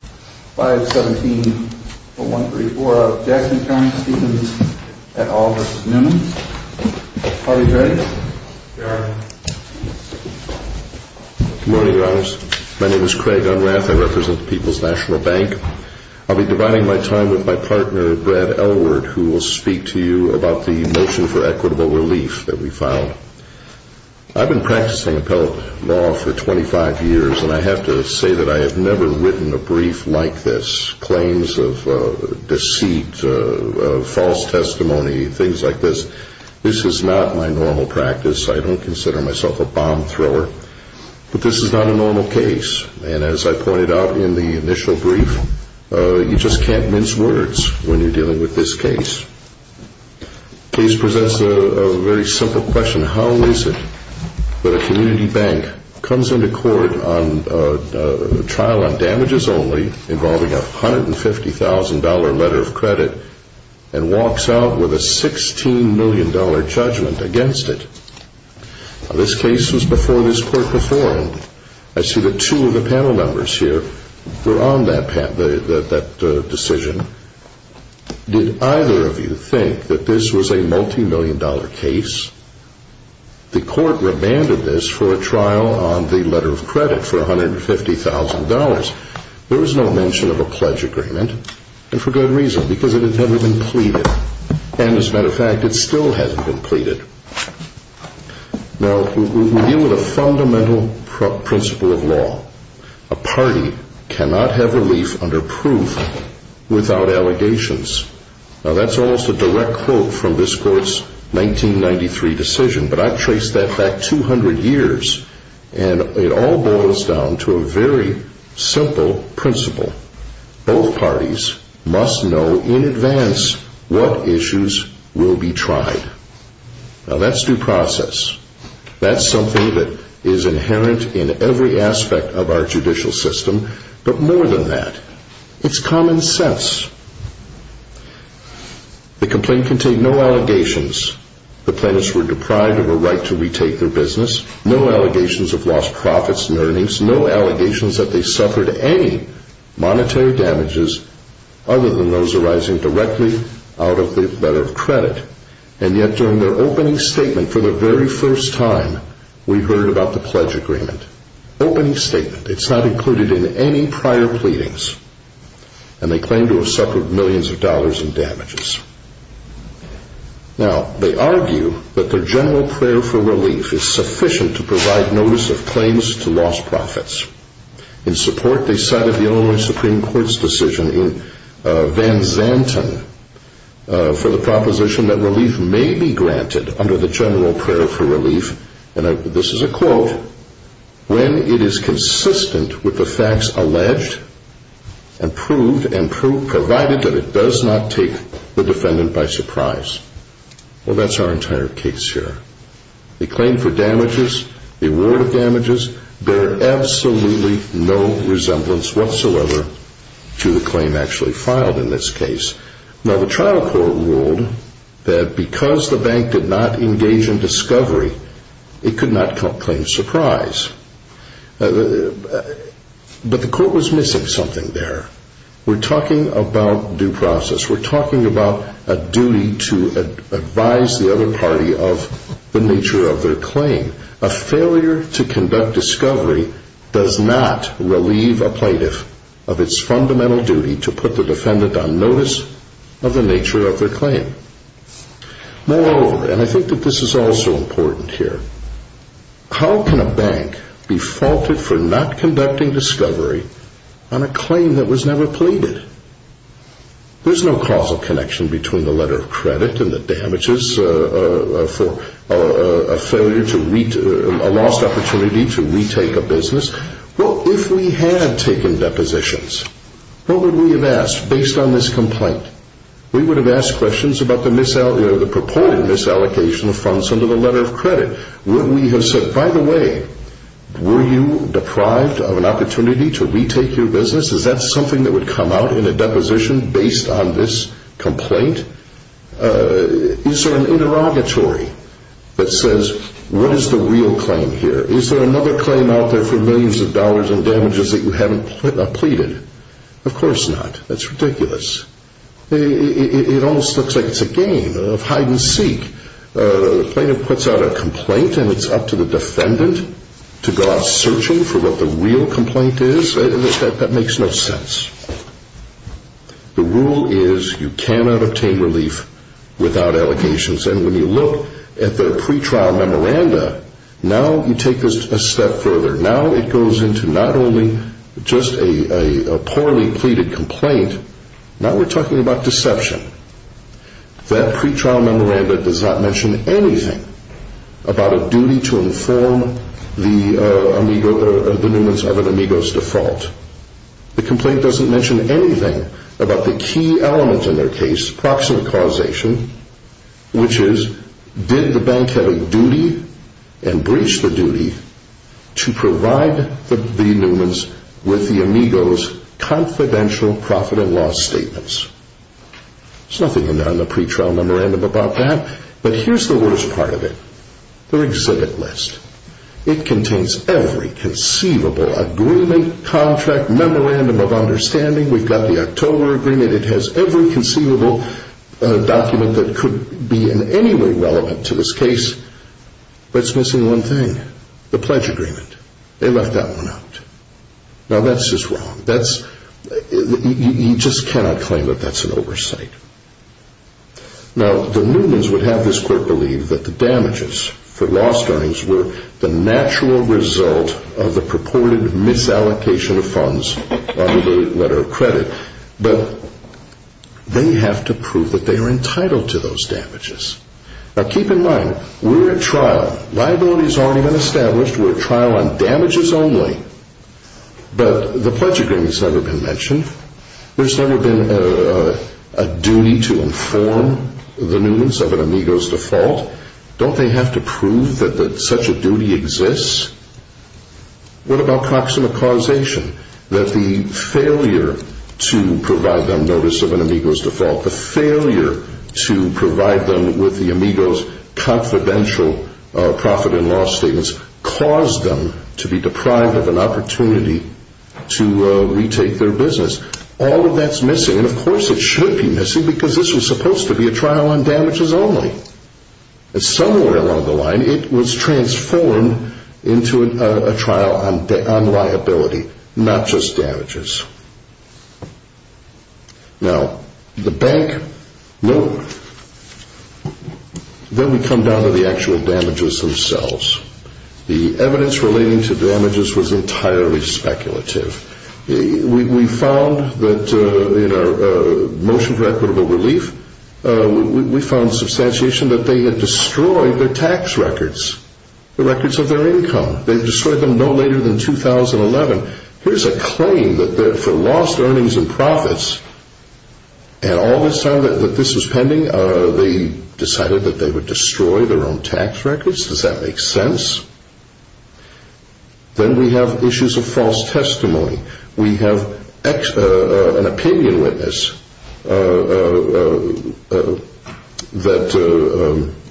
Good morning, Your Honors. My name is Craig Unrath. I represent the People's National Bank. I'll be dividing my time with my partner, Brad Elward, who will speak to you about the motion for equitable relief that we filed. I've been practicing appellate law for 25 years and I have to say that I have never written a brief like this. Claims of deceit, false testimony, things like this. This is not my normal practice. I don't consider myself a bomb thrower. But this is not a normal case. And as I pointed out in the initial brief, you just can't mince words when you're dealing with this case. The case presents a very simple question. How is it that a community bank comes into court on a trial on damages only involving a $150,000 letter of credit and walks out with a $16 million judgment against it? This case was before this court performed. I see that two of the panel members here were on that decision. Did either of you think that this was a multi-million dollar case? The court remanded this for a trial on the letter of credit for $150,000. There was no mention of a pledge agreement, and for good reason, because it had never been pleaded. And as a matter of fact, it still hasn't been pleaded. Now, we deal with a fundamental principle of law. A party cannot have relief under proof without allegations. Now, that's almost a direct quote from this court's 1993 decision, but I traced that back 200 years, and it all boils down to a very simple principle. Both parties must know in advance what issues will be tried. Now, that's due process. That's something that is inherent in every aspect of our judicial system, but more than that, it's common sense. The complaint contained no allegations the plaintiffs were deprived of a right to retake their business, no allegations of lost profits and earnings, no allegations that they suffered any monetary damages other than those arising directly out of the letter of credit. And yet, during their opening statement for the very first time, we heard about the pledge agreement. Opening statement. It's not included in any prior pleadings. And they claim to have suffered millions of dollars in damages. Now, they argue that their general prayer for relief is sufficient to provide notice of claims to lost profits. In support, they cited the Illinois Supreme Court's decision in Van Zanten for the proposition that relief may be granted under the general prayer for relief. And this is a quote. When it is consistent with the facts alleged and proved and provided that it does not take the defendant by surprise. Well, that's our entire case here. The claim for damages, the award of damages, bear absolutely no resemblance whatsoever to the claim actually filed in this case. Now, the trial court ruled that because the bank did not engage in discovery, it could not claim surprise. But the court was missing something there. We're talking about due process. We're talking about a duty to advise the other party of the nature of their claim. A failure to conduct discovery does not relieve a plaintiff of its fundamental duty to put the defendant on notice of the nature of their claim. Moreover, and I think that this is also important here, how can a bank be faulted for not conducting discovery on a claim that was never pleaded? There's no causal connection between the letter of credit and the damages for a lost opportunity to retake a business. Well, if we had taken depositions, what would we have asked based on this complaint? We would have asked questions about the proposed misallocation of funds under the letter of credit. Would we have said, by the way, were you deprived of an opportunity to retake your business? Is that something that would come out in a deposition based on this complaint? Is there an interrogatory that says, what is the real claim here? Is there another claim out there for millions of dollars in damages that you haven't pleaded? Of course not. That's ridiculous. It almost looks like it's a game of hide-and-seek. The plaintiff puts out a complaint and it's up to the defendant to go out searching for what the real complaint is. That makes no sense. The rule is you cannot obtain relief without allegations. And when you look at the pretrial memoranda, now you take this a step further. Now it goes into not only just a poorly pleaded complaint, now we're talking about deception. That pretrial memoranda does not mention anything about a duty to inform the Newmans of an Amigo's default. The complaint doesn't mention anything about the key element in their case, proximate causation, which is, did the bank have a duty and breached the duty to provide the Newmans with the Amigo's confidential profit and loss statements? There's nothing in the pretrial memoranda about that. But here's the worst part of it. Their exhibit list. It contains every conceivable agreement, contract, memorandum of understanding. We've got the October agreement. It has every conceivable document that could be in any way relevant to this case. But it's missing one thing. The pledge agreement. They left that one out. Now that's just wrong. You just cannot claim that that's an oversight. Now the Newmans would have this court believe that the damages for lost earnings were the natural result of the purported misallocation of funds under the letter of credit. But they have to prove that they are entitled to those damages. Now keep in mind, we're at trial. Liability's already been established. We're at trial on damages only. But the pledge agreement's never been mentioned. There's never been a duty to inform the Newmans of an Amigo's default. Don't they have to prove that such a duty exists? What about proxima causation? That the failure to provide them notice of an Amigo's default, the failure to provide them with the Amigo's confidential profit and loss statements caused them to be deprived of an opportunity to retake their business. All of that's missing. And of course it should be missing because this was supposed to be a trial on damages only. Somewhere along the line it was transformed into a trial on liability, not just damages. Now the bank, nope. Then we come down to the actual damages themselves. The evidence relating to damages was entirely speculative. We found that in our motion for equitable relief, we found substantiation that they had destroyed their tax records, the records of their income. They destroyed them no later than 2011. Here's a claim that for lost earnings and profits, and all this time that this was pending, they decided that they would destroy their own tax records. Does that make sense? Then we have issues of false testimony. We have an opinion witness that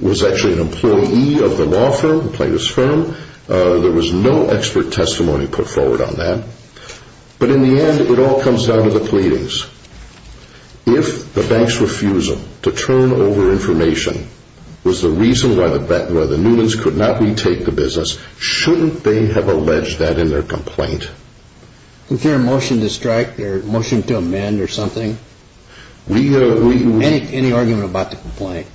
was actually an employee of the law firm, the plaintiff's firm. There was no expert testimony put forward on that. But in the end it all comes down to the pleadings. If the bank's refusal to turn over information was the reason why the Newmans could not retake the business, shouldn't they have alleged that in their complaint? Was there a motion to strike, a motion to amend or something? Any argument about the complaint?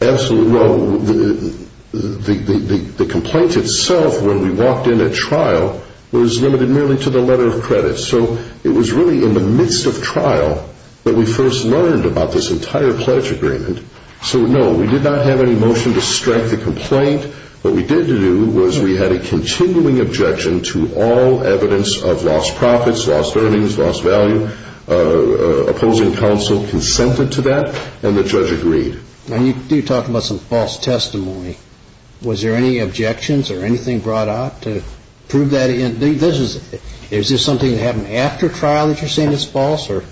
Absolutely. The complaint itself, when we walked in at trial, was limited merely to the letter of credit. So it was really in the midst of trial that we first learned about this entire pledge agreement. So no, we did not have any motion to strike the complaint. What we did do was we had a continuing objection to all evidence of lost profits, lost earnings, lost value. Opposing counsel consented to that and the judge agreed. Now you do talk about some false testimony. Was there any objections or anything brought out to prove that? Is this something that happened after trial that you're saying is false or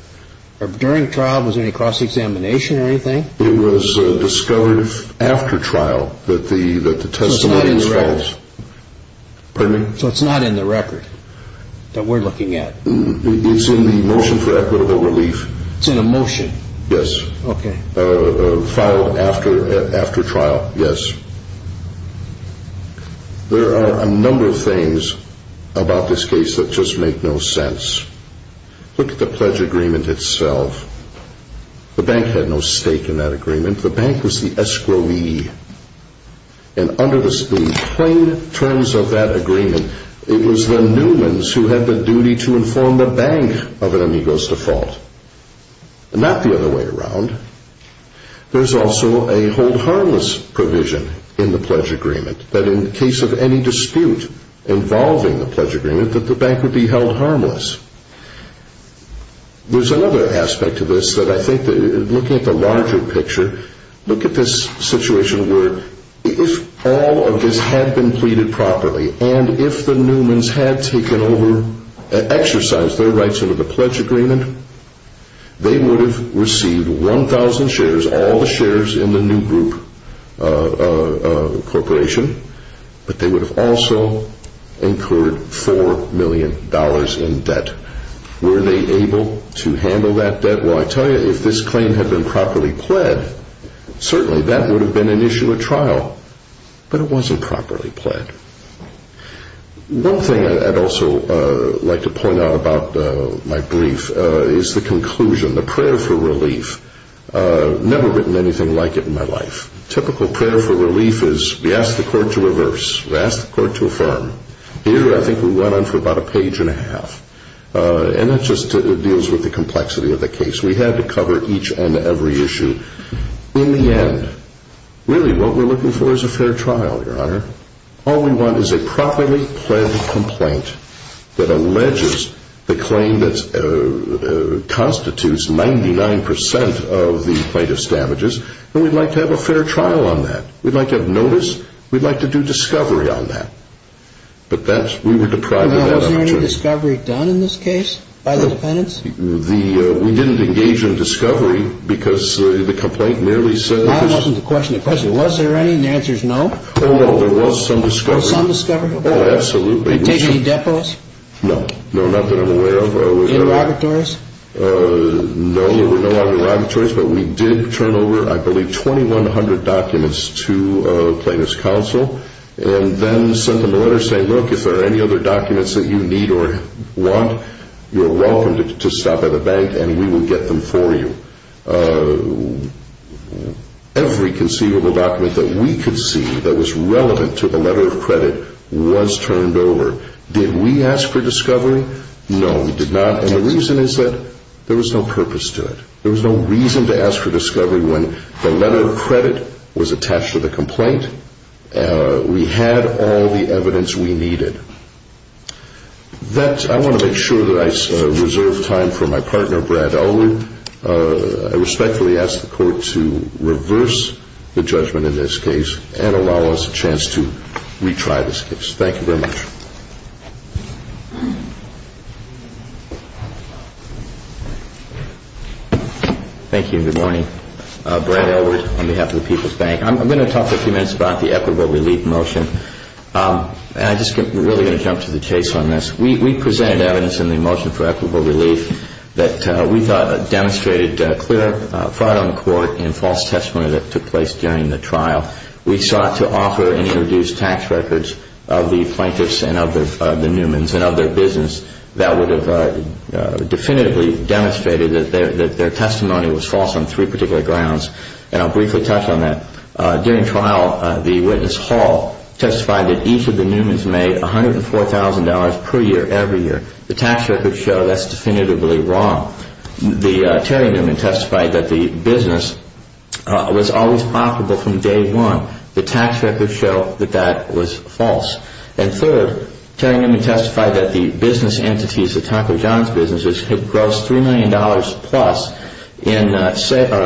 during trial? Was there any cross-examination or anything? It was discovered after trial that the testimony was false. So it's not in the record that we're looking at? It's in the motion for equitable relief. It's in a motion? Yes. Okay. Filed after trial, yes. There are a number of things about this case that just make no sense. Look at the pledge agreement itself. The bank had no stake in that agreement. The bank was the escrowee. And under the plain terms of that agreement, it was the Newmans who had the duty to inform the bank of an amigo's default. Not the other way around. There's also a hold harmless provision in the pledge agreement that in the case of any dispute involving the pledge agreement that the bank would be held harmless. There's another aspect to this that I think, looking at the larger picture, look at this situation where if all of this had been pleaded properly and if the Newmans had taken over, exercised their rights under the pledge agreement, they would have received 1,000 shares, all the shares in the New Group Corporation, but they would have also incurred $4 million in debt. Were they able to handle that debt? Well, I tell you, if this claim had been properly pled, certainly that would have been an issue at trial. But it wasn't properly pled. One thing I'd also like to point out about my brief is the conclusion, the prayer for relief. I've never written anything like it in my life. Typical prayer for relief is we ask the court to reverse, we ask the court to affirm. Here I think we went on for about a page and a half. And that just deals with the complexity of the case. We had to cover each and every issue. In the end, really what we're looking for is a fair trial, Your Honor. All we want is a properly pled complaint that alleges the claim that constitutes 99% of the plaintiff's damages, and we'd like to have a fair trial on that. We'd like to have notice. We'd like to do discovery on that. But we were deprived of that. Was there any discovery done in this case by the defendants? We didn't engage in discovery because the complaint merely says... I'm asking the question, the question, was there any? And the answer is no. Oh, no, there was some discovery. Oh, some discovery? Oh, absolutely. Did they take any depots? No, not that I'm aware of. Interrogatories? No, there were no interrogatories, but we did turn over, I believe, 2,100 documents to Plaintiff's Counsel. And then sent them a letter saying, look, if there are any other documents that you need or want, you're welcome to stop by the bank and we will get them for you. Every conceivable document that we could see that was relevant to the letter of credit was turned over. Did we ask for discovery? No, we did not. And the reason is that there was no purpose to it. There was no reason to ask for discovery when the letter of credit was attached to the complaint. We had all the evidence we needed. I want to make sure that I reserve time for my partner, Brad Olu. I respectfully ask the Court to reverse the judgment in this case and allow us a chance to retry this case. Thank you very much. Thank you and good morning. Brad Elwood on behalf of the People's Bank. I'm going to talk for a few minutes about the equitable relief motion. And I'm just really going to jump to the chase on this. We presented evidence in the motion for equitable relief that we thought demonstrated clear fraud on the court and false testimony that took place during the trial. We sought to offer and introduce tax records of the plaintiffs and of the Newmans and of their business that would have definitively demonstrated that their testimony was false on three particular grounds. And I'll briefly touch on that. During trial, the witness Hall testified that each of the Newmans made $104,000 per year every year. The tax records show that's definitively wrong. Terry Newman testified that the business was always profitable from day one. The tax records show that that was false. And third, Terry Newman testified that the business entities, the Taco John's businesses, had grossed $3 million plus in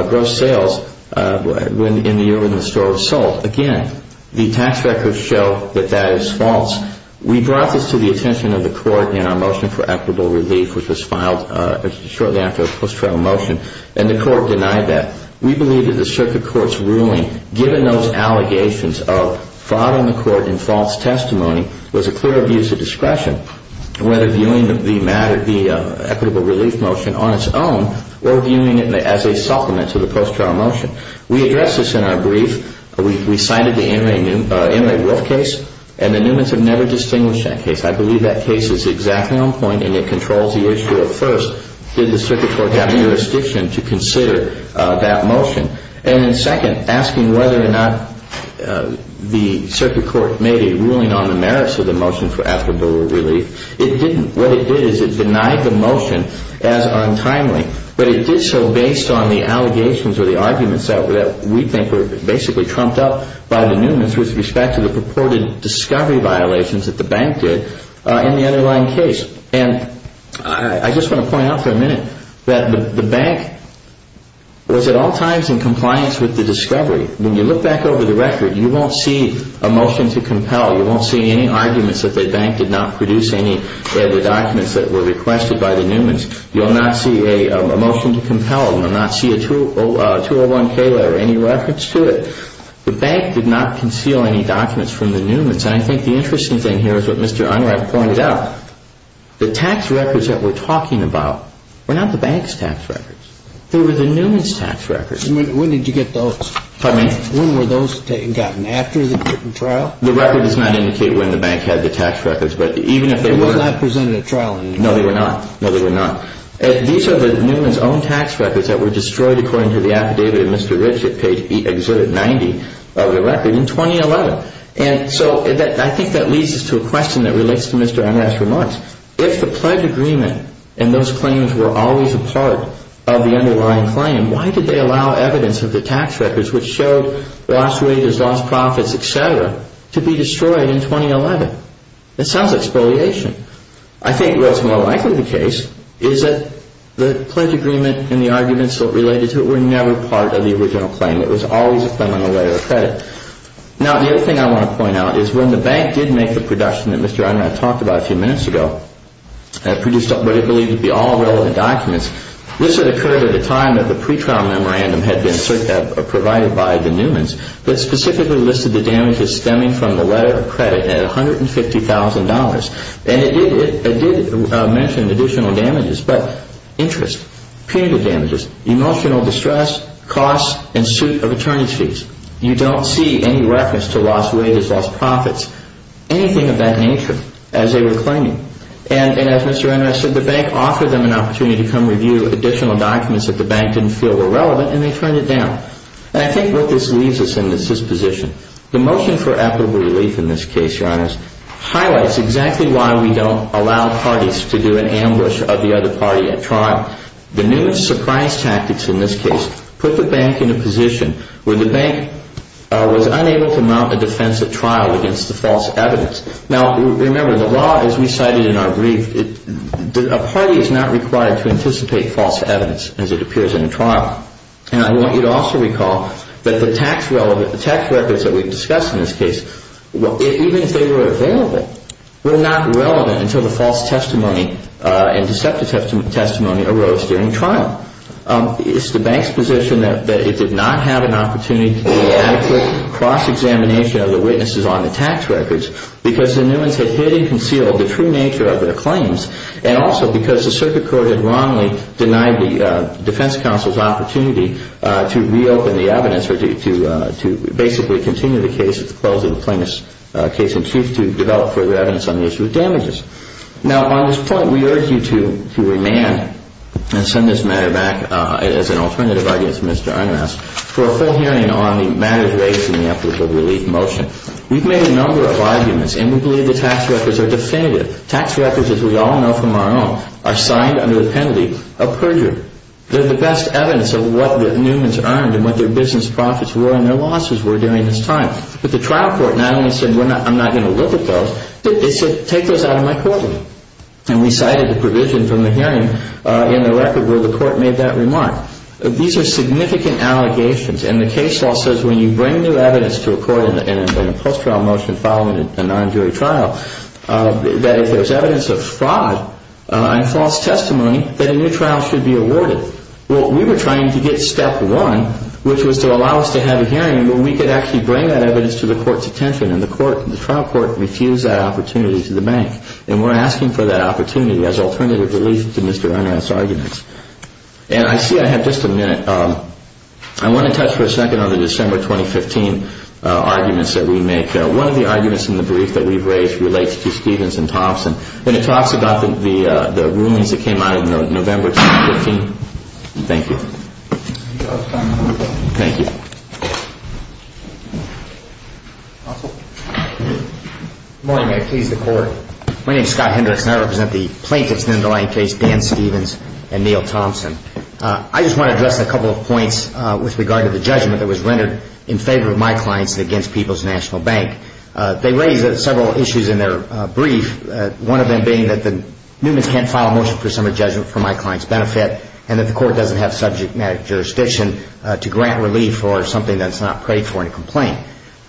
gross sales in the year when the store was sold. Again, the tax records show that that is false. We brought this to the attention of the court in our motion for equitable relief, which was filed shortly after the post-trial motion, and the court denied that. We believe that the circuit court's ruling, given those allegations of fraud on the court and false testimony, was a clear abuse of discretion, whether viewing the matter, the equitable relief motion, on its own or viewing it as a supplement to the post-trial motion. We addressed this in our brief. We cited the Inmate Wolf case, and the Newmans have never distinguished that case. I believe that case is exactly on point, and it controls the issue of, first, did the circuit court have jurisdiction to consider that motion? And then, second, asking whether or not the circuit court made a ruling on the merits of the motion for equitable relief. It didn't. What it did is it denied the motion as untimely. But it did so based on the allegations or the arguments that we think were basically trumped up by the Newmans with respect to the purported discovery violations that the bank did in the underlying case. And I just want to point out for a minute that the bank was at all times in compliance with the discovery. When you look back over the record, you won't see a motion to compel. You won't see any arguments that the bank did not produce any of the documents that were requested by the Newmans. You'll not see a motion to compel. You'll not see a 201-K letter or any records to it. The bank did not conceal any documents from the Newmans. And I think the interesting thing here is what Mr. Unright pointed out. The tax records that we're talking about were not the bank's tax records. They were the Newmans' tax records. When did you get those? Pardon me? When were those gotten after the trial? The record does not indicate when the bank had the tax records, but even if they were... They were not presented at trial in any way? No, they were not. No, they were not. These are the Newmans' own tax records that were destroyed according to the affidavit of Mr. Rich that page exhibit 90 of the record in 2011. And so I think that leads us to a question that relates to Mr. Unright's remarks. If the pledge agreement and those claims were always a part of the underlying claim, why did they allow evidence of the tax records which showed lost wages, lost profits, et cetera, to be destroyed in 2011? It sounds like spoliation. I think what's more likely the case is that the pledge agreement and the arguments related to it were never part of the original claim. It was always a claim on the letter of credit. Now, the other thing I want to point out is when the bank did make the production that Mr. Unright talked about a few minutes ago and produced what it believed to be all relevant documents, this had occurred at a time that the pretrial memorandum had been provided by the Newmans that specifically listed the damages stemming from the letter of credit at $150,000 and it did mention additional damages, but interest, punitive damages, emotional distress, costs, and suit of attorney's fees. You don't see any reference to lost wages, lost profits, anything of that nature as they were claiming. And as Mr. Unright said, the bank offered them an opportunity to come review additional documents that the bank didn't feel were relevant and they turned it down. And I think what this leaves us in is this position. The motion for equitable relief in this case, Your Honors, highlights exactly why we don't allow parties to do an ambush of the other party at trial. The Newmans' surprise tactics in this case put the bank in a position where the bank was unable to mount a defensive trial against the false evidence. Now, remember, the law, as we cited in our brief, a party is not required to anticipate false evidence as it appears in a trial. And I want you to also recall that the tax records that we've discussed in this case, even if they were available, were not relevant until the false testimony and deceptive testimony arose during the trial. It's the bank's position that it did not have an opportunity to do an adequate cross-examination of the witnesses on the tax records because the Newmans had hidden and concealed the true nature of their claims and also because the circuit court had wrongly denied the defense counsel's opportunity to reopen the evidence or to basically continue the case at the close of the plaintiff's case in chief to develop further evidence on the issue of damages. Now, on this point, we urge you to remand and send this matter back as an alternative, I guess, to Mr. Ironhouse, for a full hearing on the matters raised in the equitable relief motion. We've made a number of arguments, and we believe the tax records are definitive. Tax records, as we all know from our own, are signed under the penalty of perjury. They're the best evidence of what the Newmans earned and what their business profits were and their losses were during this time. But the trial court not only said, I'm not going to look at those, it said, take those out of my courtroom. And we cited the provision from the hearing in the record where the court made that remark. These are significant allegations, and the case law says when you bring new evidence to a court in a post-trial motion following a non-jury trial, that if there's evidence of fraud and false testimony, that a new trial should be awarded. Well, we were trying to get step one, which was to allow us to have a hearing where we could actually bring that evidence to the court's attention, and the trial court refused that opportunity to the bank. And we're asking for that opportunity as an alternative to Mr. Ironhouse's arguments. And I see I have just a minute. I want to touch for a second on the December 2015 arguments that we make. One of the arguments in the brief that we've raised relates to Stevens and Thompson. And it talks about the rulings that came out of November 2015. Thank you. Thank you. Counsel? Good morning. May it please the Court. My name is Scott Hendricks, and I represent the plaintiffs in the underlying case, Dan Stevens and Neal Thompson. I just want to address a couple of points with regard to the judgment that was rendered in favor of my clients and against People's National Bank. They raised several issues in their brief, one of them being that the Newmans can't file a motion for summary judgment for my client's benefit and that the court doesn't have subject matter jurisdiction to grant relief for something that's not paid for in a complaint.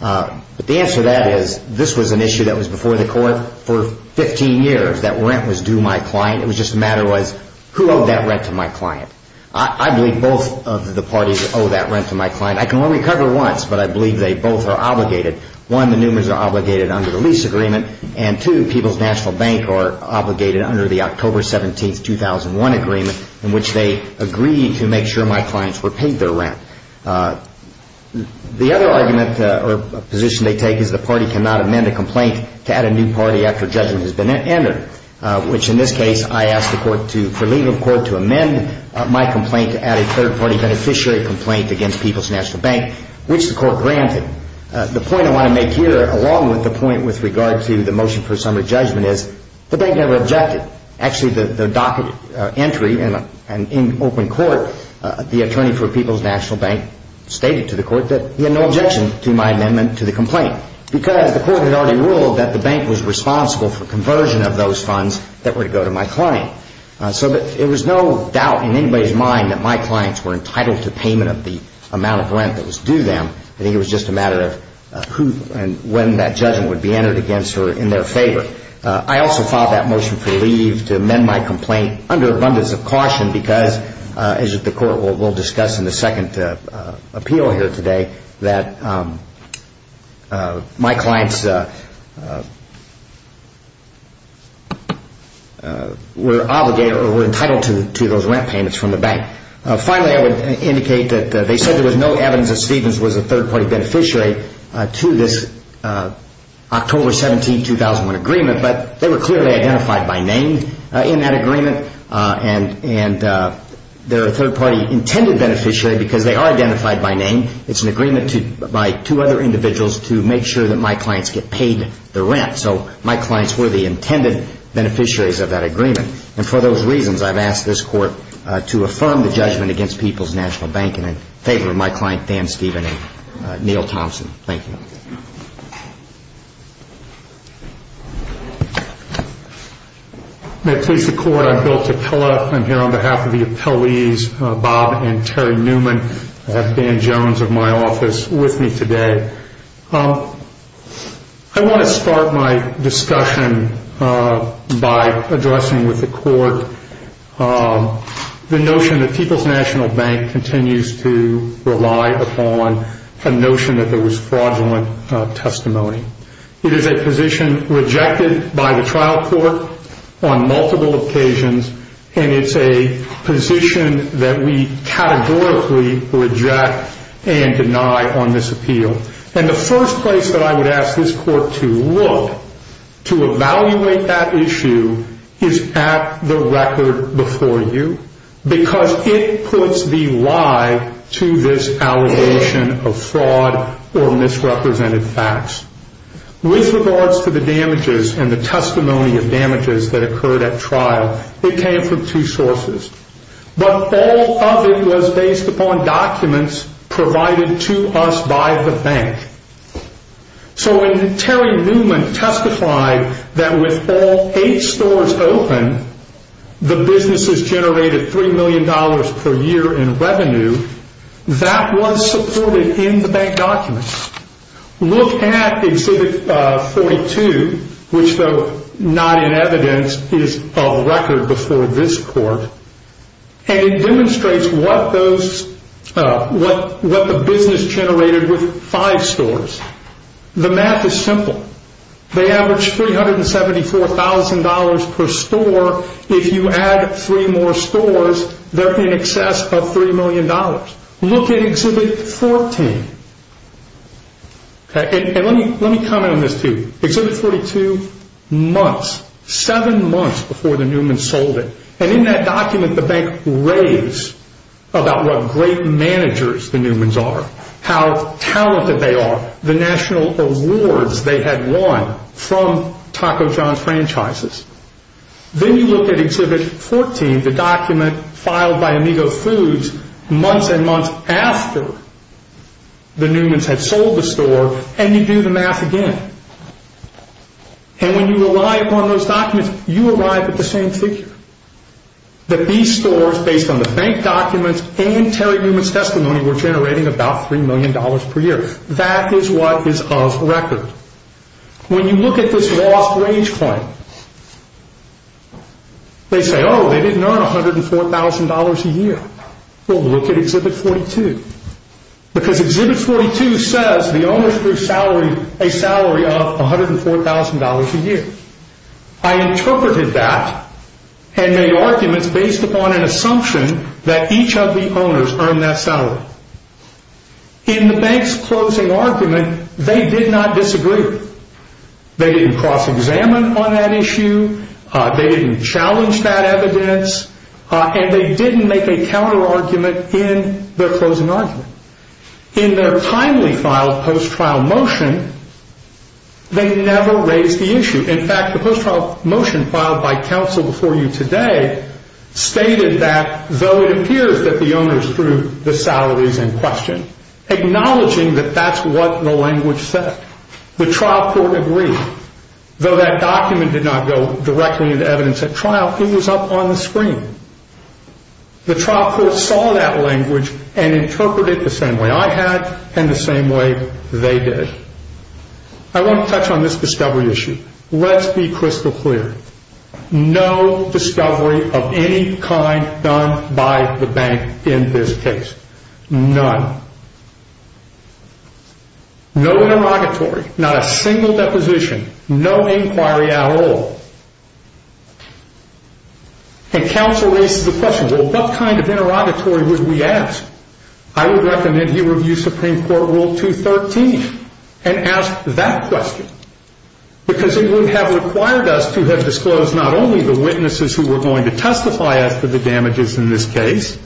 But the answer to that is this was an issue that was before the court for 15 years. That rent was due my client. It was just a matter of who owed that rent to my client. I believe both of the parties owe that rent to my client. I can only cover once, but I believe they both are obligated. One, the Newmans are obligated under the lease agreement, and two, People's National Bank are obligated under the October 17, 2001 agreement in which they agreed to make sure my clients were paid their rent. The other argument or position they take is the party cannot amend a complaint to add a new party after judgment has been entered, which in this case I asked the court for leave of court to amend my complaint to add a third-party beneficiary complaint against People's National Bank, which the court granted. The point I want to make here, along with the point with regard to the motion for summary judgment, is the bank never objected. Actually, the docket entry in open court, the attorney for People's National Bank stated to the court that he had no objection to my amendment to the complaint because the court had already ruled that the bank was responsible for conversion of those funds that were to go to my client. So there was no doubt in anybody's mind that my clients were entitled to payment of the amount of rent that was due them. I think it was just a matter of who and when that judgment would be entered against or in their favor. I also filed that motion for leave to amend my complaint under abundance of caution because, as the court will discuss in the second appeal here today, that my clients were entitled to those rent payments from the bank. Finally, I would indicate that they said there was no evidence that Stevens was a third-party beneficiary to this October 17, 2001 agreement, but they were clearly identified by name in that agreement. And they're a third-party intended beneficiary because they are identified by name. It's an agreement by two other individuals to make sure that my clients get paid the rent. So my clients were the intended beneficiaries of that agreement. And for those reasons, I've asked this court to affirm the judgment against People's National Bank in favor of my client Dan Stevens and Neal Thompson. Thank you. May it please the Court, I'm Bill Tepela. I'm here on behalf of the appellees Bob and Terry Newman. I have Dan Jones of my office with me today. I want to start my discussion by addressing with the Court the notion that People's National Bank continues to rely upon a notion that there was fraudulent testimony. It is a position rejected by the trial court on multiple occasions, and it's a position that we categorically reject and deny on this appeal. And the first place that I would ask this court to look to evaluate that issue is at the record before you because it puts the lie to this allegation of fraud or misrepresented facts. With regards to the damages and the testimony of damages that occurred at trial, it came from two sources. But all of it was based upon documents provided to us by the bank. So when Terry Newman testified that with all eight stores open, the businesses generated $3 million per year in revenue, that was supported in the bank documents. Look at Exhibit 42, which though not in evidence, is of record before this court, and it demonstrates what the business generated with five stores. The math is simple. They averaged $374,000 per store. If you add three more stores, they're in excess of $3 million. Look at Exhibit 14. And let me comment on this too. Exhibit 42, months, seven months before the Newmans sold it. And in that document, the bank raves about what great managers the Newmans are, how talented they are, the national awards they had won from Taco John's franchises. Then you look at Exhibit 14, the document filed by Amigo Foods, months and months after the Newmans had sold the store, and you do the math again. And when you rely upon those documents, you arrive at the same figure, that these stores, based on the bank documents and Terry Newman's testimony, were generating about $3 million per year. That is what is of record. When you look at this lost wage claim, they say, oh, they didn't earn $104,000 a year. Well, look at Exhibit 42. Because Exhibit 42 says the owners were salaried a salary of $104,000 a year. I interpreted that and made arguments based upon an assumption that each of the owners earned that salary. In the bank's closing argument, they did not disagree. They didn't cross-examine on that issue. They didn't challenge that evidence. And they didn't make a counter-argument in their closing argument. In their timely filed post-trial motion, they never raised the issue. In fact, the post-trial motion filed by counsel before you today stated that, acknowledging that that's what the language said. The trial court agreed. Though that document did not go directly into evidence at trial, it was up on the screen. The trial court saw that language and interpreted it the same way I had and the same way they did. I want to touch on this discovery issue. Let's be crystal clear. No discovery of any kind done by the bank in this case. None. No interrogatory. Not a single deposition. No inquiry at all. And counsel raises the question, well, what kind of interrogatory would we ask? I would recommend he review Supreme Court Rule 213 and ask that question because it would have required us to have disclosed not only the witnesses who were going to testify after the damages in this case,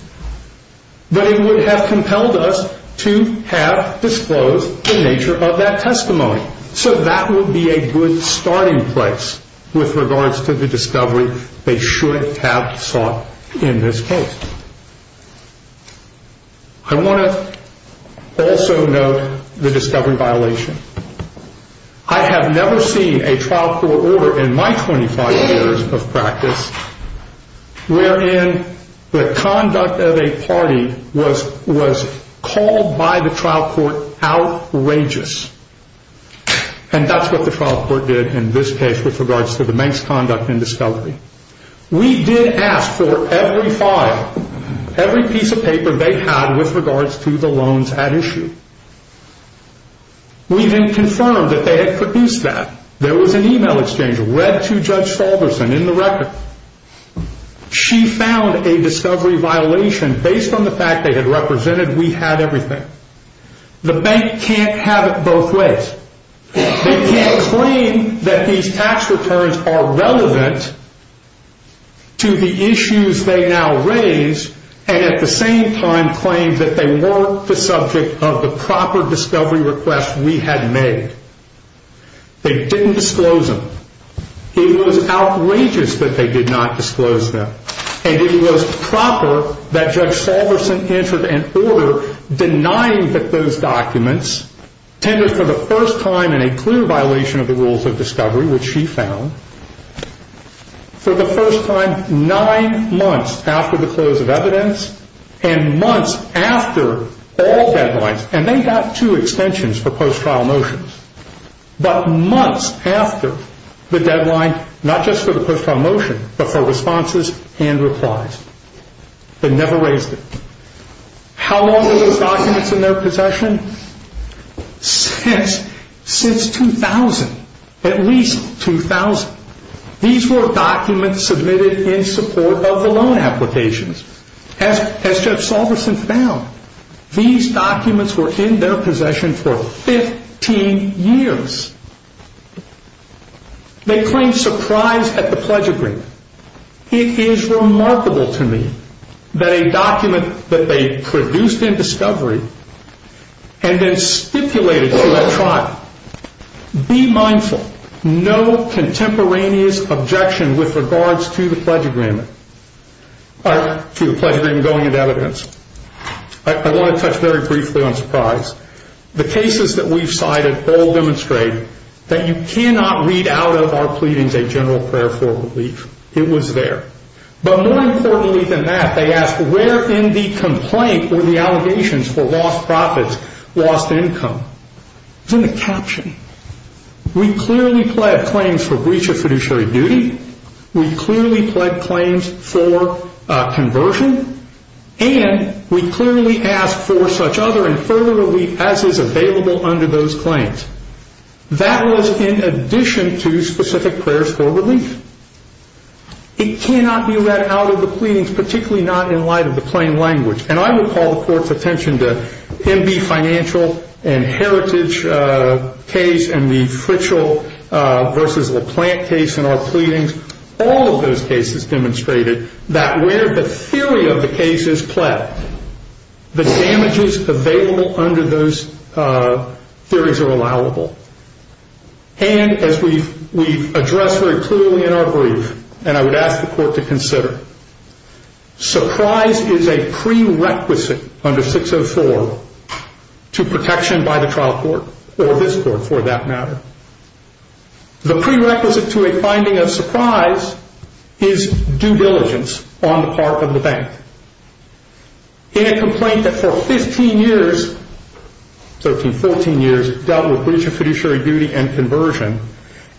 but it would have compelled us to have disclosed the nature of that testimony. So that would be a good starting place with regards to the discovery they should have sought in this case. I want to also note the discovery violation. I have never seen a trial court order in my 25 years of practice wherein the conduct of a party was called by the trial court outrageous. And that's what the trial court did in this case with regards to the bank's conduct and discovery. We did ask for every file, every piece of paper they had with regards to the loans at issue. We then confirmed that they had produced that. There was an email exchange read to Judge Falderson in the record. She found a discovery violation based on the fact they had represented we had everything. The bank can't have it both ways. They can't claim that these tax returns are relevant to the issues they now raise and at the same time claim that they weren't the subject of the proper discovery request we had made. They didn't disclose them. It was outrageous that they did not disclose them. And it was proper that Judge Falderson entered an order denying that those documents tended for the first time in a clear violation of the rules of discovery, which she found, for the first time nine months after the close of evidence and months after all deadlines. And they got two extensions for post-trial motions. But months after the deadline, not just for the post-trial motion, but for responses and replies. They never raised it. How long were those documents in their possession? Since 2000. At least 2000. These were documents submitted in support of the loan applications. As Judge Falderson found, these documents were in their possession for 15 years. They claimed surprise at the pledge agreement. It is remarkable to me that a document that they produced in discovery and then stipulated to that tribe, be mindful, no contemporaneous objection with regards to the pledge agreement going into evidence. I want to touch very briefly on surprise. The cases that we've cited all demonstrate that you cannot read out of our pleadings a general prayer for relief. It was there. But more importantly than that, they asked where in the complaint were the allegations for lost profits, lost income. It's in the caption. We clearly pled claims for breach of fiduciary duty. We clearly pled claims for conversion. And we clearly asked for such other and further relief as is available under those claims. That was in addition to specific prayers for relief. It cannot be read out of the pleadings, particularly not in light of the plain language. And I would call the Court's attention to M.B. Financial and Heritage case and the Fritchell v. LaPlante case in our pleadings. All of those cases demonstrated that where the theory of the case is pled, the damages available under those theories are allowable. And as we've addressed very clearly in our brief, and I would ask the Court to consider, surprise is a prerequisite under 604 to protection by the trial court or this court for that matter. The prerequisite to a finding of surprise is due diligence on the part of the bank. In a complaint that for 15 years, 13, 14 years, dealt with breach of fiduciary duty and conversion,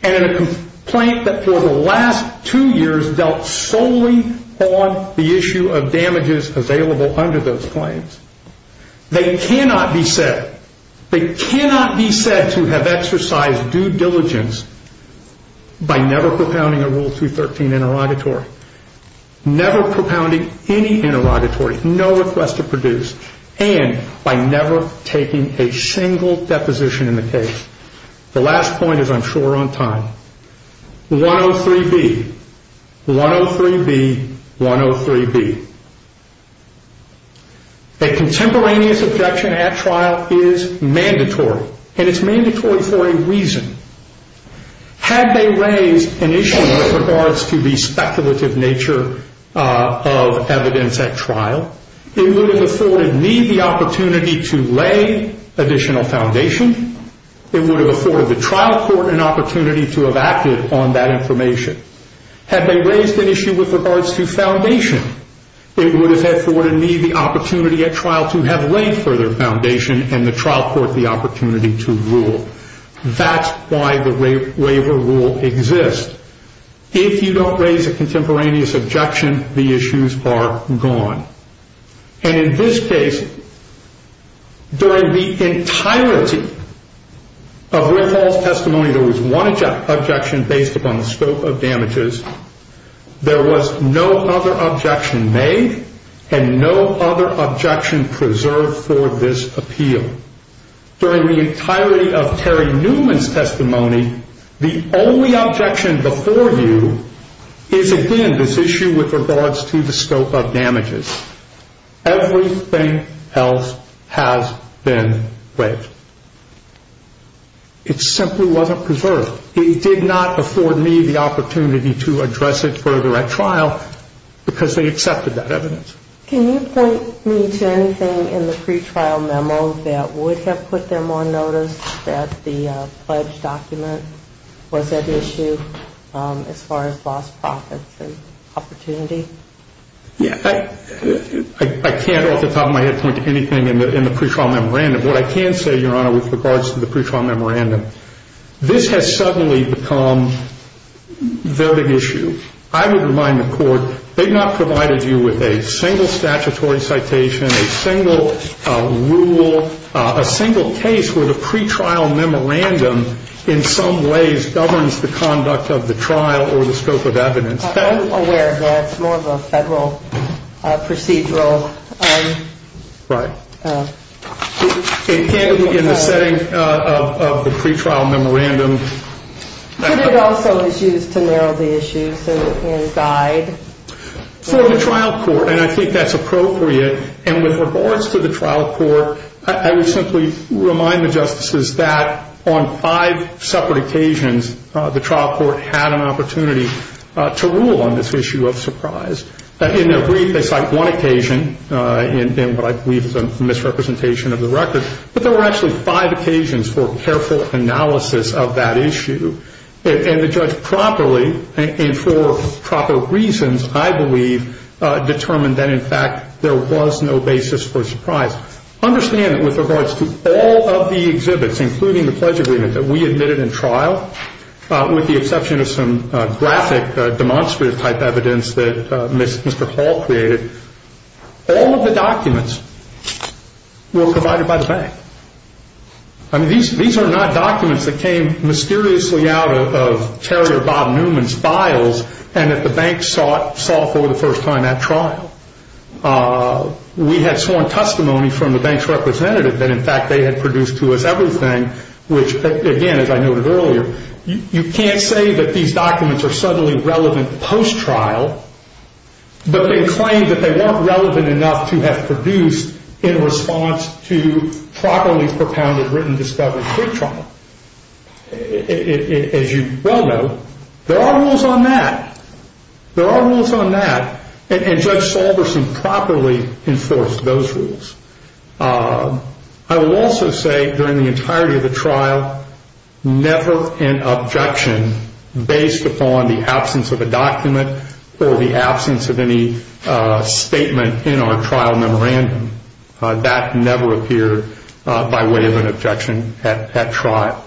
and in a complaint that for the last two years dealt solely on the issue of damages available under those claims, they cannot be said to have exercised due diligence by never propounding a Rule 213 interrogatory, never propounding any interrogatory, no request to produce, and by never taking a single deposition in the case. The last point is I'm sure on time. 103B, 103B, 103B. A contemporaneous objection at trial is mandatory, and it's mandatory for a reason. Had they raised an issue with regards to the speculative nature of evidence at trial, it would have afforded me the opportunity to lay additional foundation. It would have afforded the trial court an opportunity to have acted on that information. Had they raised an issue with regards to foundation, it would have afforded me the opportunity at trial to have laid further foundation and the trial court the opportunity to rule. That's why the waiver rule exists. If you don't raise a contemporaneous objection, the issues are gone. And in this case, during the entirety of Riffall's testimony, there was one objection based upon the scope of damages. There was no other objection made and no other objection preserved for this appeal. During the entirety of Terry Newman's testimony, the only objection before you is, again, this issue with regards to the scope of damages. Everything else has been waived. It simply wasn't preserved. It did not afford me the opportunity to address it further at trial because they accepted that evidence. Can you point me to anything in the pretrial memo that would have put them on notice that the pledge document was at issue as far as lost profits and opportunity? Yeah. I can't off the top of my head point to anything in the pretrial memorandum. What I can say, Your Honor, with regards to the pretrial memorandum, this has suddenly become a voting issue. I would remind the Court, they've not provided you with a single statutory citation, a single rule, a single case where the pretrial memorandum in some ways governs the conduct of the trial or the scope of evidence. I'm aware of that. It's more of a federal procedural. Right. In the setting of the pretrial memorandum. But it also is used to narrow the issues and guide. For the trial court, and I think that's appropriate, and with regards to the trial court, I would simply remind the Justices that on five separate occasions the trial court had an opportunity to rule on this issue of surprise. In their brief, they cite one occasion in what I believe is a misrepresentation of the record, but there were actually five occasions for careful analysis of that issue. And the judge properly, and for proper reasons, I believe, determined that, in fact, there was no basis for surprise. Understand that with regards to all of the exhibits, including the pledge agreement that we admitted in trial, with the exception of some graphic demonstrative type evidence that Mr. Hall created, all of the documents were provided by the bank. I mean, these are not documents that came mysteriously out of terrier Bob Newman's files and that the bank sought for the first time at trial. We had sworn testimony from the bank's representative that, in fact, they had produced to us everything, which, again, as I noted earlier, you can't say that these documents are suddenly relevant post-trial, but they claim that they weren't relevant enough to have produced in response to properly propounded written discovery pre-trial. As you well know, there are rules on that. There are rules on that, and Judge Salverson properly enforced those rules. I will also say, during the entirety of the trial, never an objection based upon the absence of a document or the absence of any statement in our trial memorandum. That never appeared by way of an objection at trial.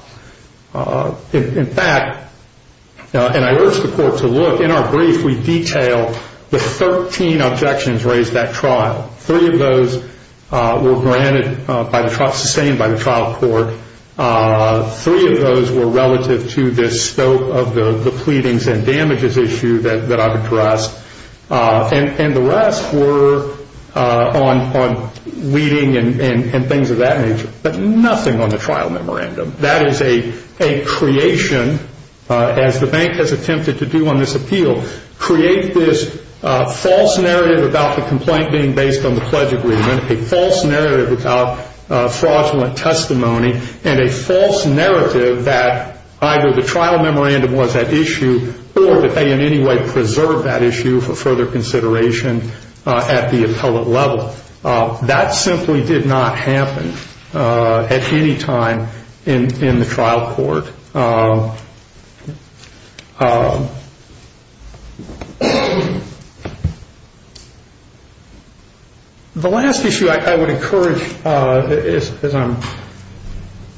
In fact, and I urge the Court to look, in our brief we detail the 13 objections raised at trial. Three of those were granted by the trial, sustained by the trial court. Three of those were relative to this scope of the pleadings and damages issue that I've addressed, and the rest were on reading and things of that nature, but nothing on the trial memorandum. That is a creation, as the bank has attempted to do on this appeal, create this false narrative about the complaint being based on the pledge agreement, a false narrative about fraudulent testimony, and a false narrative that either the trial memorandum was at issue or that they in any way preserved that issue for further consideration at the appellate level. That simply did not happen at any time in the trial court. The last issue I would encourage, as I'm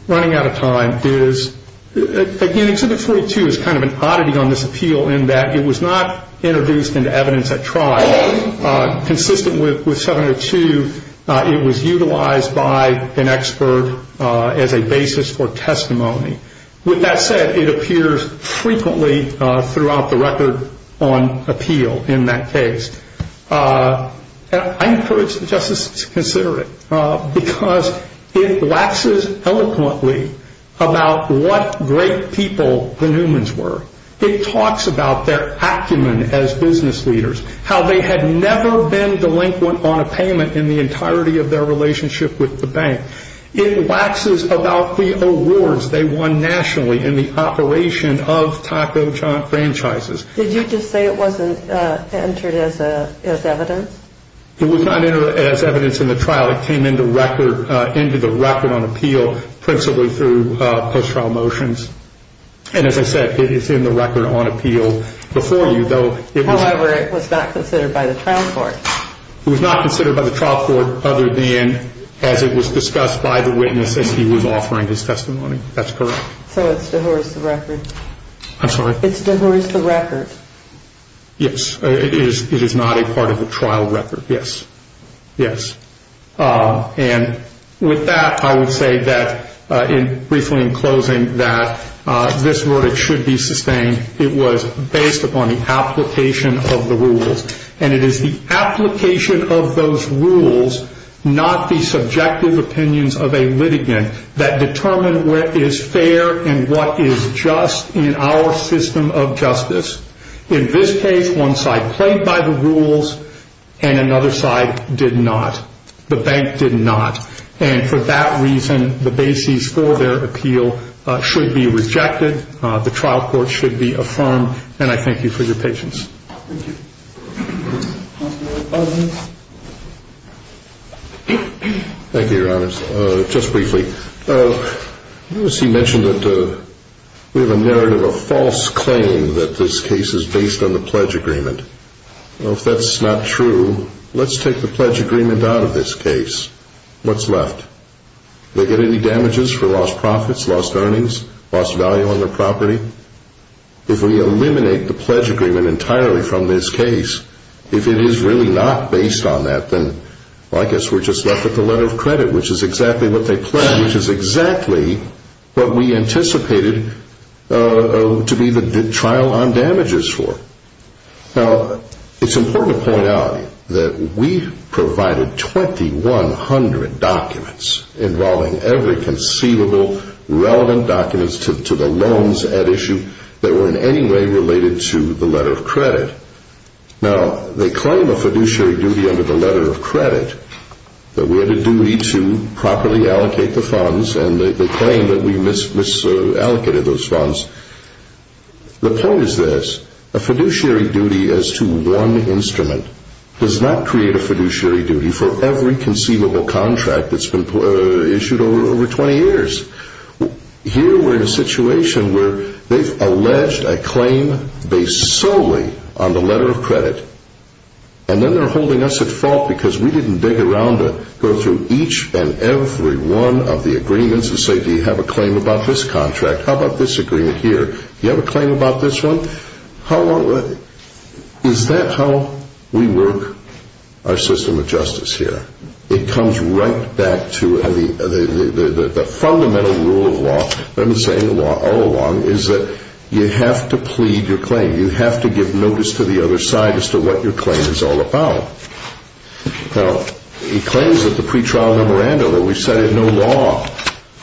running out of time, is again, Exhibit 42 is kind of an oddity on this appeal in that it was not introduced into evidence at trial. Consistent with 702, it was utilized by an expert as a basis for testimony. With that said, it appears frequently throughout the record on appeal in that case. I encourage the Justice to consider it, because it waxes eloquently about what great people the Newmans were. It talks about their acumen as business leaders, how they had never been delinquent on a payment in the entirety of their relationship with the bank. It waxes about the awards they won nationally in the operation of taco franchises. Did you just say it wasn't entered as evidence? It was not entered as evidence in the trial. It came into the record on appeal principally through post-trial motions. As I said, it is in the record on appeal before you. However, it was not considered by the trial court. It was not considered by the trial court, other than as it was discussed by the witness as he was offering his testimony. That's correct. So it's dehurst the record. I'm sorry? It's dehurst the record. Yes, it is not a part of the trial record. Yes. Yes. And with that, I would say briefly in closing that this verdict should be sustained. It was based upon the application of the rules. And it is the application of those rules, not the subjective opinions of a litigant that determine what is fair and what is just in our system of justice. In this case, one side played by the rules and another side did not. The bank did not. And for that reason, the bases for their appeal should be rejected. The trial court should be affirmed. And I thank you for your patience. Thank you. Thank you, Your Honors. Just briefly, you mentioned that we have a narrative of false claim that this case is based on the pledge agreement. Well, if that's not true, let's take the pledge agreement out of this case. What's left? Do they get any damages for lost profits, lost earnings, lost value on their property? If we eliminate the pledge agreement entirely from this case, if it is really not based on that, then I guess we're just left with the letter of credit, which is exactly what they pledged, which is exactly what we anticipated to be the trial on damages for. Now, it's important to point out that we provided 2,100 documents involving every conceivable relevant documents to the loans at issue that were in any way related to the letter of credit. Now, they claim a fiduciary duty under the letter of credit, that we had a duty to properly allocate the funds, and they claim that we misallocated those funds. The point is this. A fiduciary duty as to one instrument does not create a fiduciary duty for every conceivable contract that's been issued over 20 years. Here we're in a situation where they've alleged a claim based solely on the letter of credit, and then they're holding us at fault because we didn't dig around to go through each and every one of the agreements and say, do you have a claim about this contract? How about this agreement here? Do you have a claim about this one? Is that how we work our system of justice here? It comes right back to the fundamental rule of law, that we've been saying all along, is that you have to plead your claim. You have to give notice to the other side as to what your claim is all about. Now, he claims that the pretrial memorandum, which said there's no law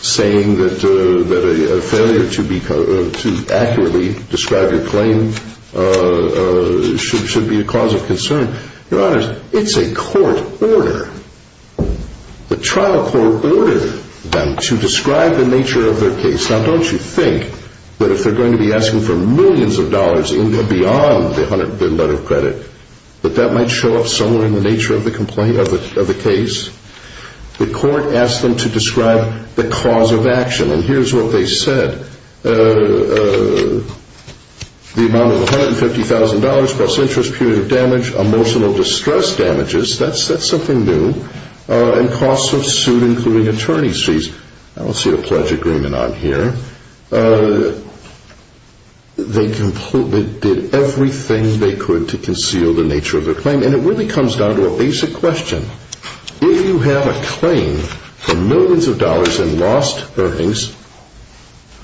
saying that a failure to accurately describe your claim should be a cause of concern. Your Honor, it's a court order. The trial court ordered them to describe the nature of their case. Now, don't you think that if they're going to be asking for millions of dollars even beyond the letter of credit, that that might show up somewhere in the nature of the case? The court asked them to describe the cause of action, and here's what they said. They said the amount of $150,000 plus interest, period of damage, emotional distress damages. That's something new. And costs of suit, including attorney's fees. I don't see a pledge agreement on here. They completely did everything they could to conceal the nature of their claim, and it really comes down to a basic question. If you have a claim for millions of dollars in lost earnings,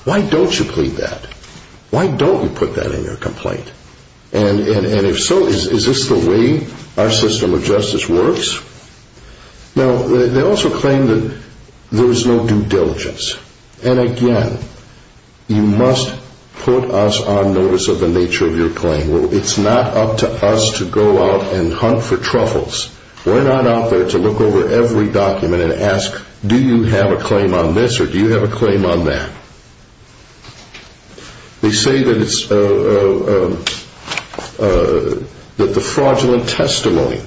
why don't you plead that? Why don't you put that in your complaint? And if so, is this the way our system of justice works? Now, they also claim that there's no due diligence. And again, you must put us on notice of the nature of your claim. We're not out there to look over every document and ask, do you have a claim on this or do you have a claim on that? They say that the fraudulent testimony,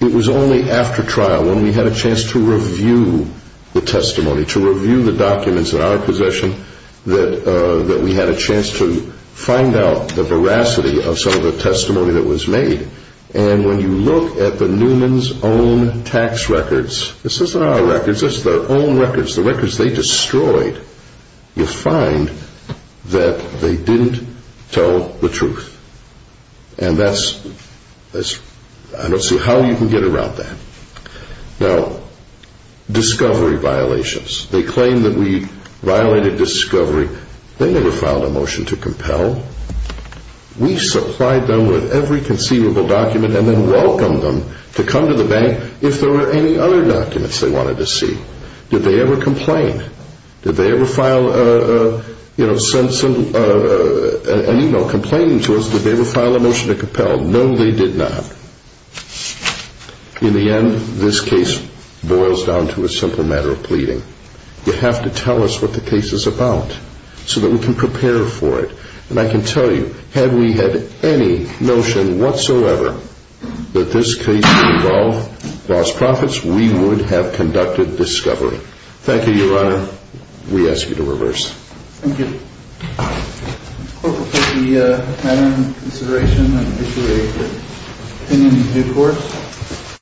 it was only after trial when we had a chance to review the testimony, to review the documents in our possession, that we had a chance to find out the veracity of some of the testimony that was made. And when you look at the Newman's own tax records, this isn't our records, this is their own records, the records they destroyed, you'll find that they didn't tell the truth. And that's, I don't see how you can get around that. Now, discovery violations. They claim that we violated discovery. They never filed a motion to compel. We supplied them with every conceivable document and then welcomed them to come to the bank if there were any other documents they wanted to see. Did they ever complain? Did they ever file an email complaining to us that they ever filed a motion to compel? No, they did not. In the end, this case boils down to a simple matter of pleading. You have to tell us what the case is about so that we can prepare for it. And I can tell you, had we had any notion whatsoever that this case would involve lost profits, we would have conducted discovery. Thank you, Your Honor. We ask you to reverse. Thank you. Court will take the matter into consideration and issue a opinion in due course.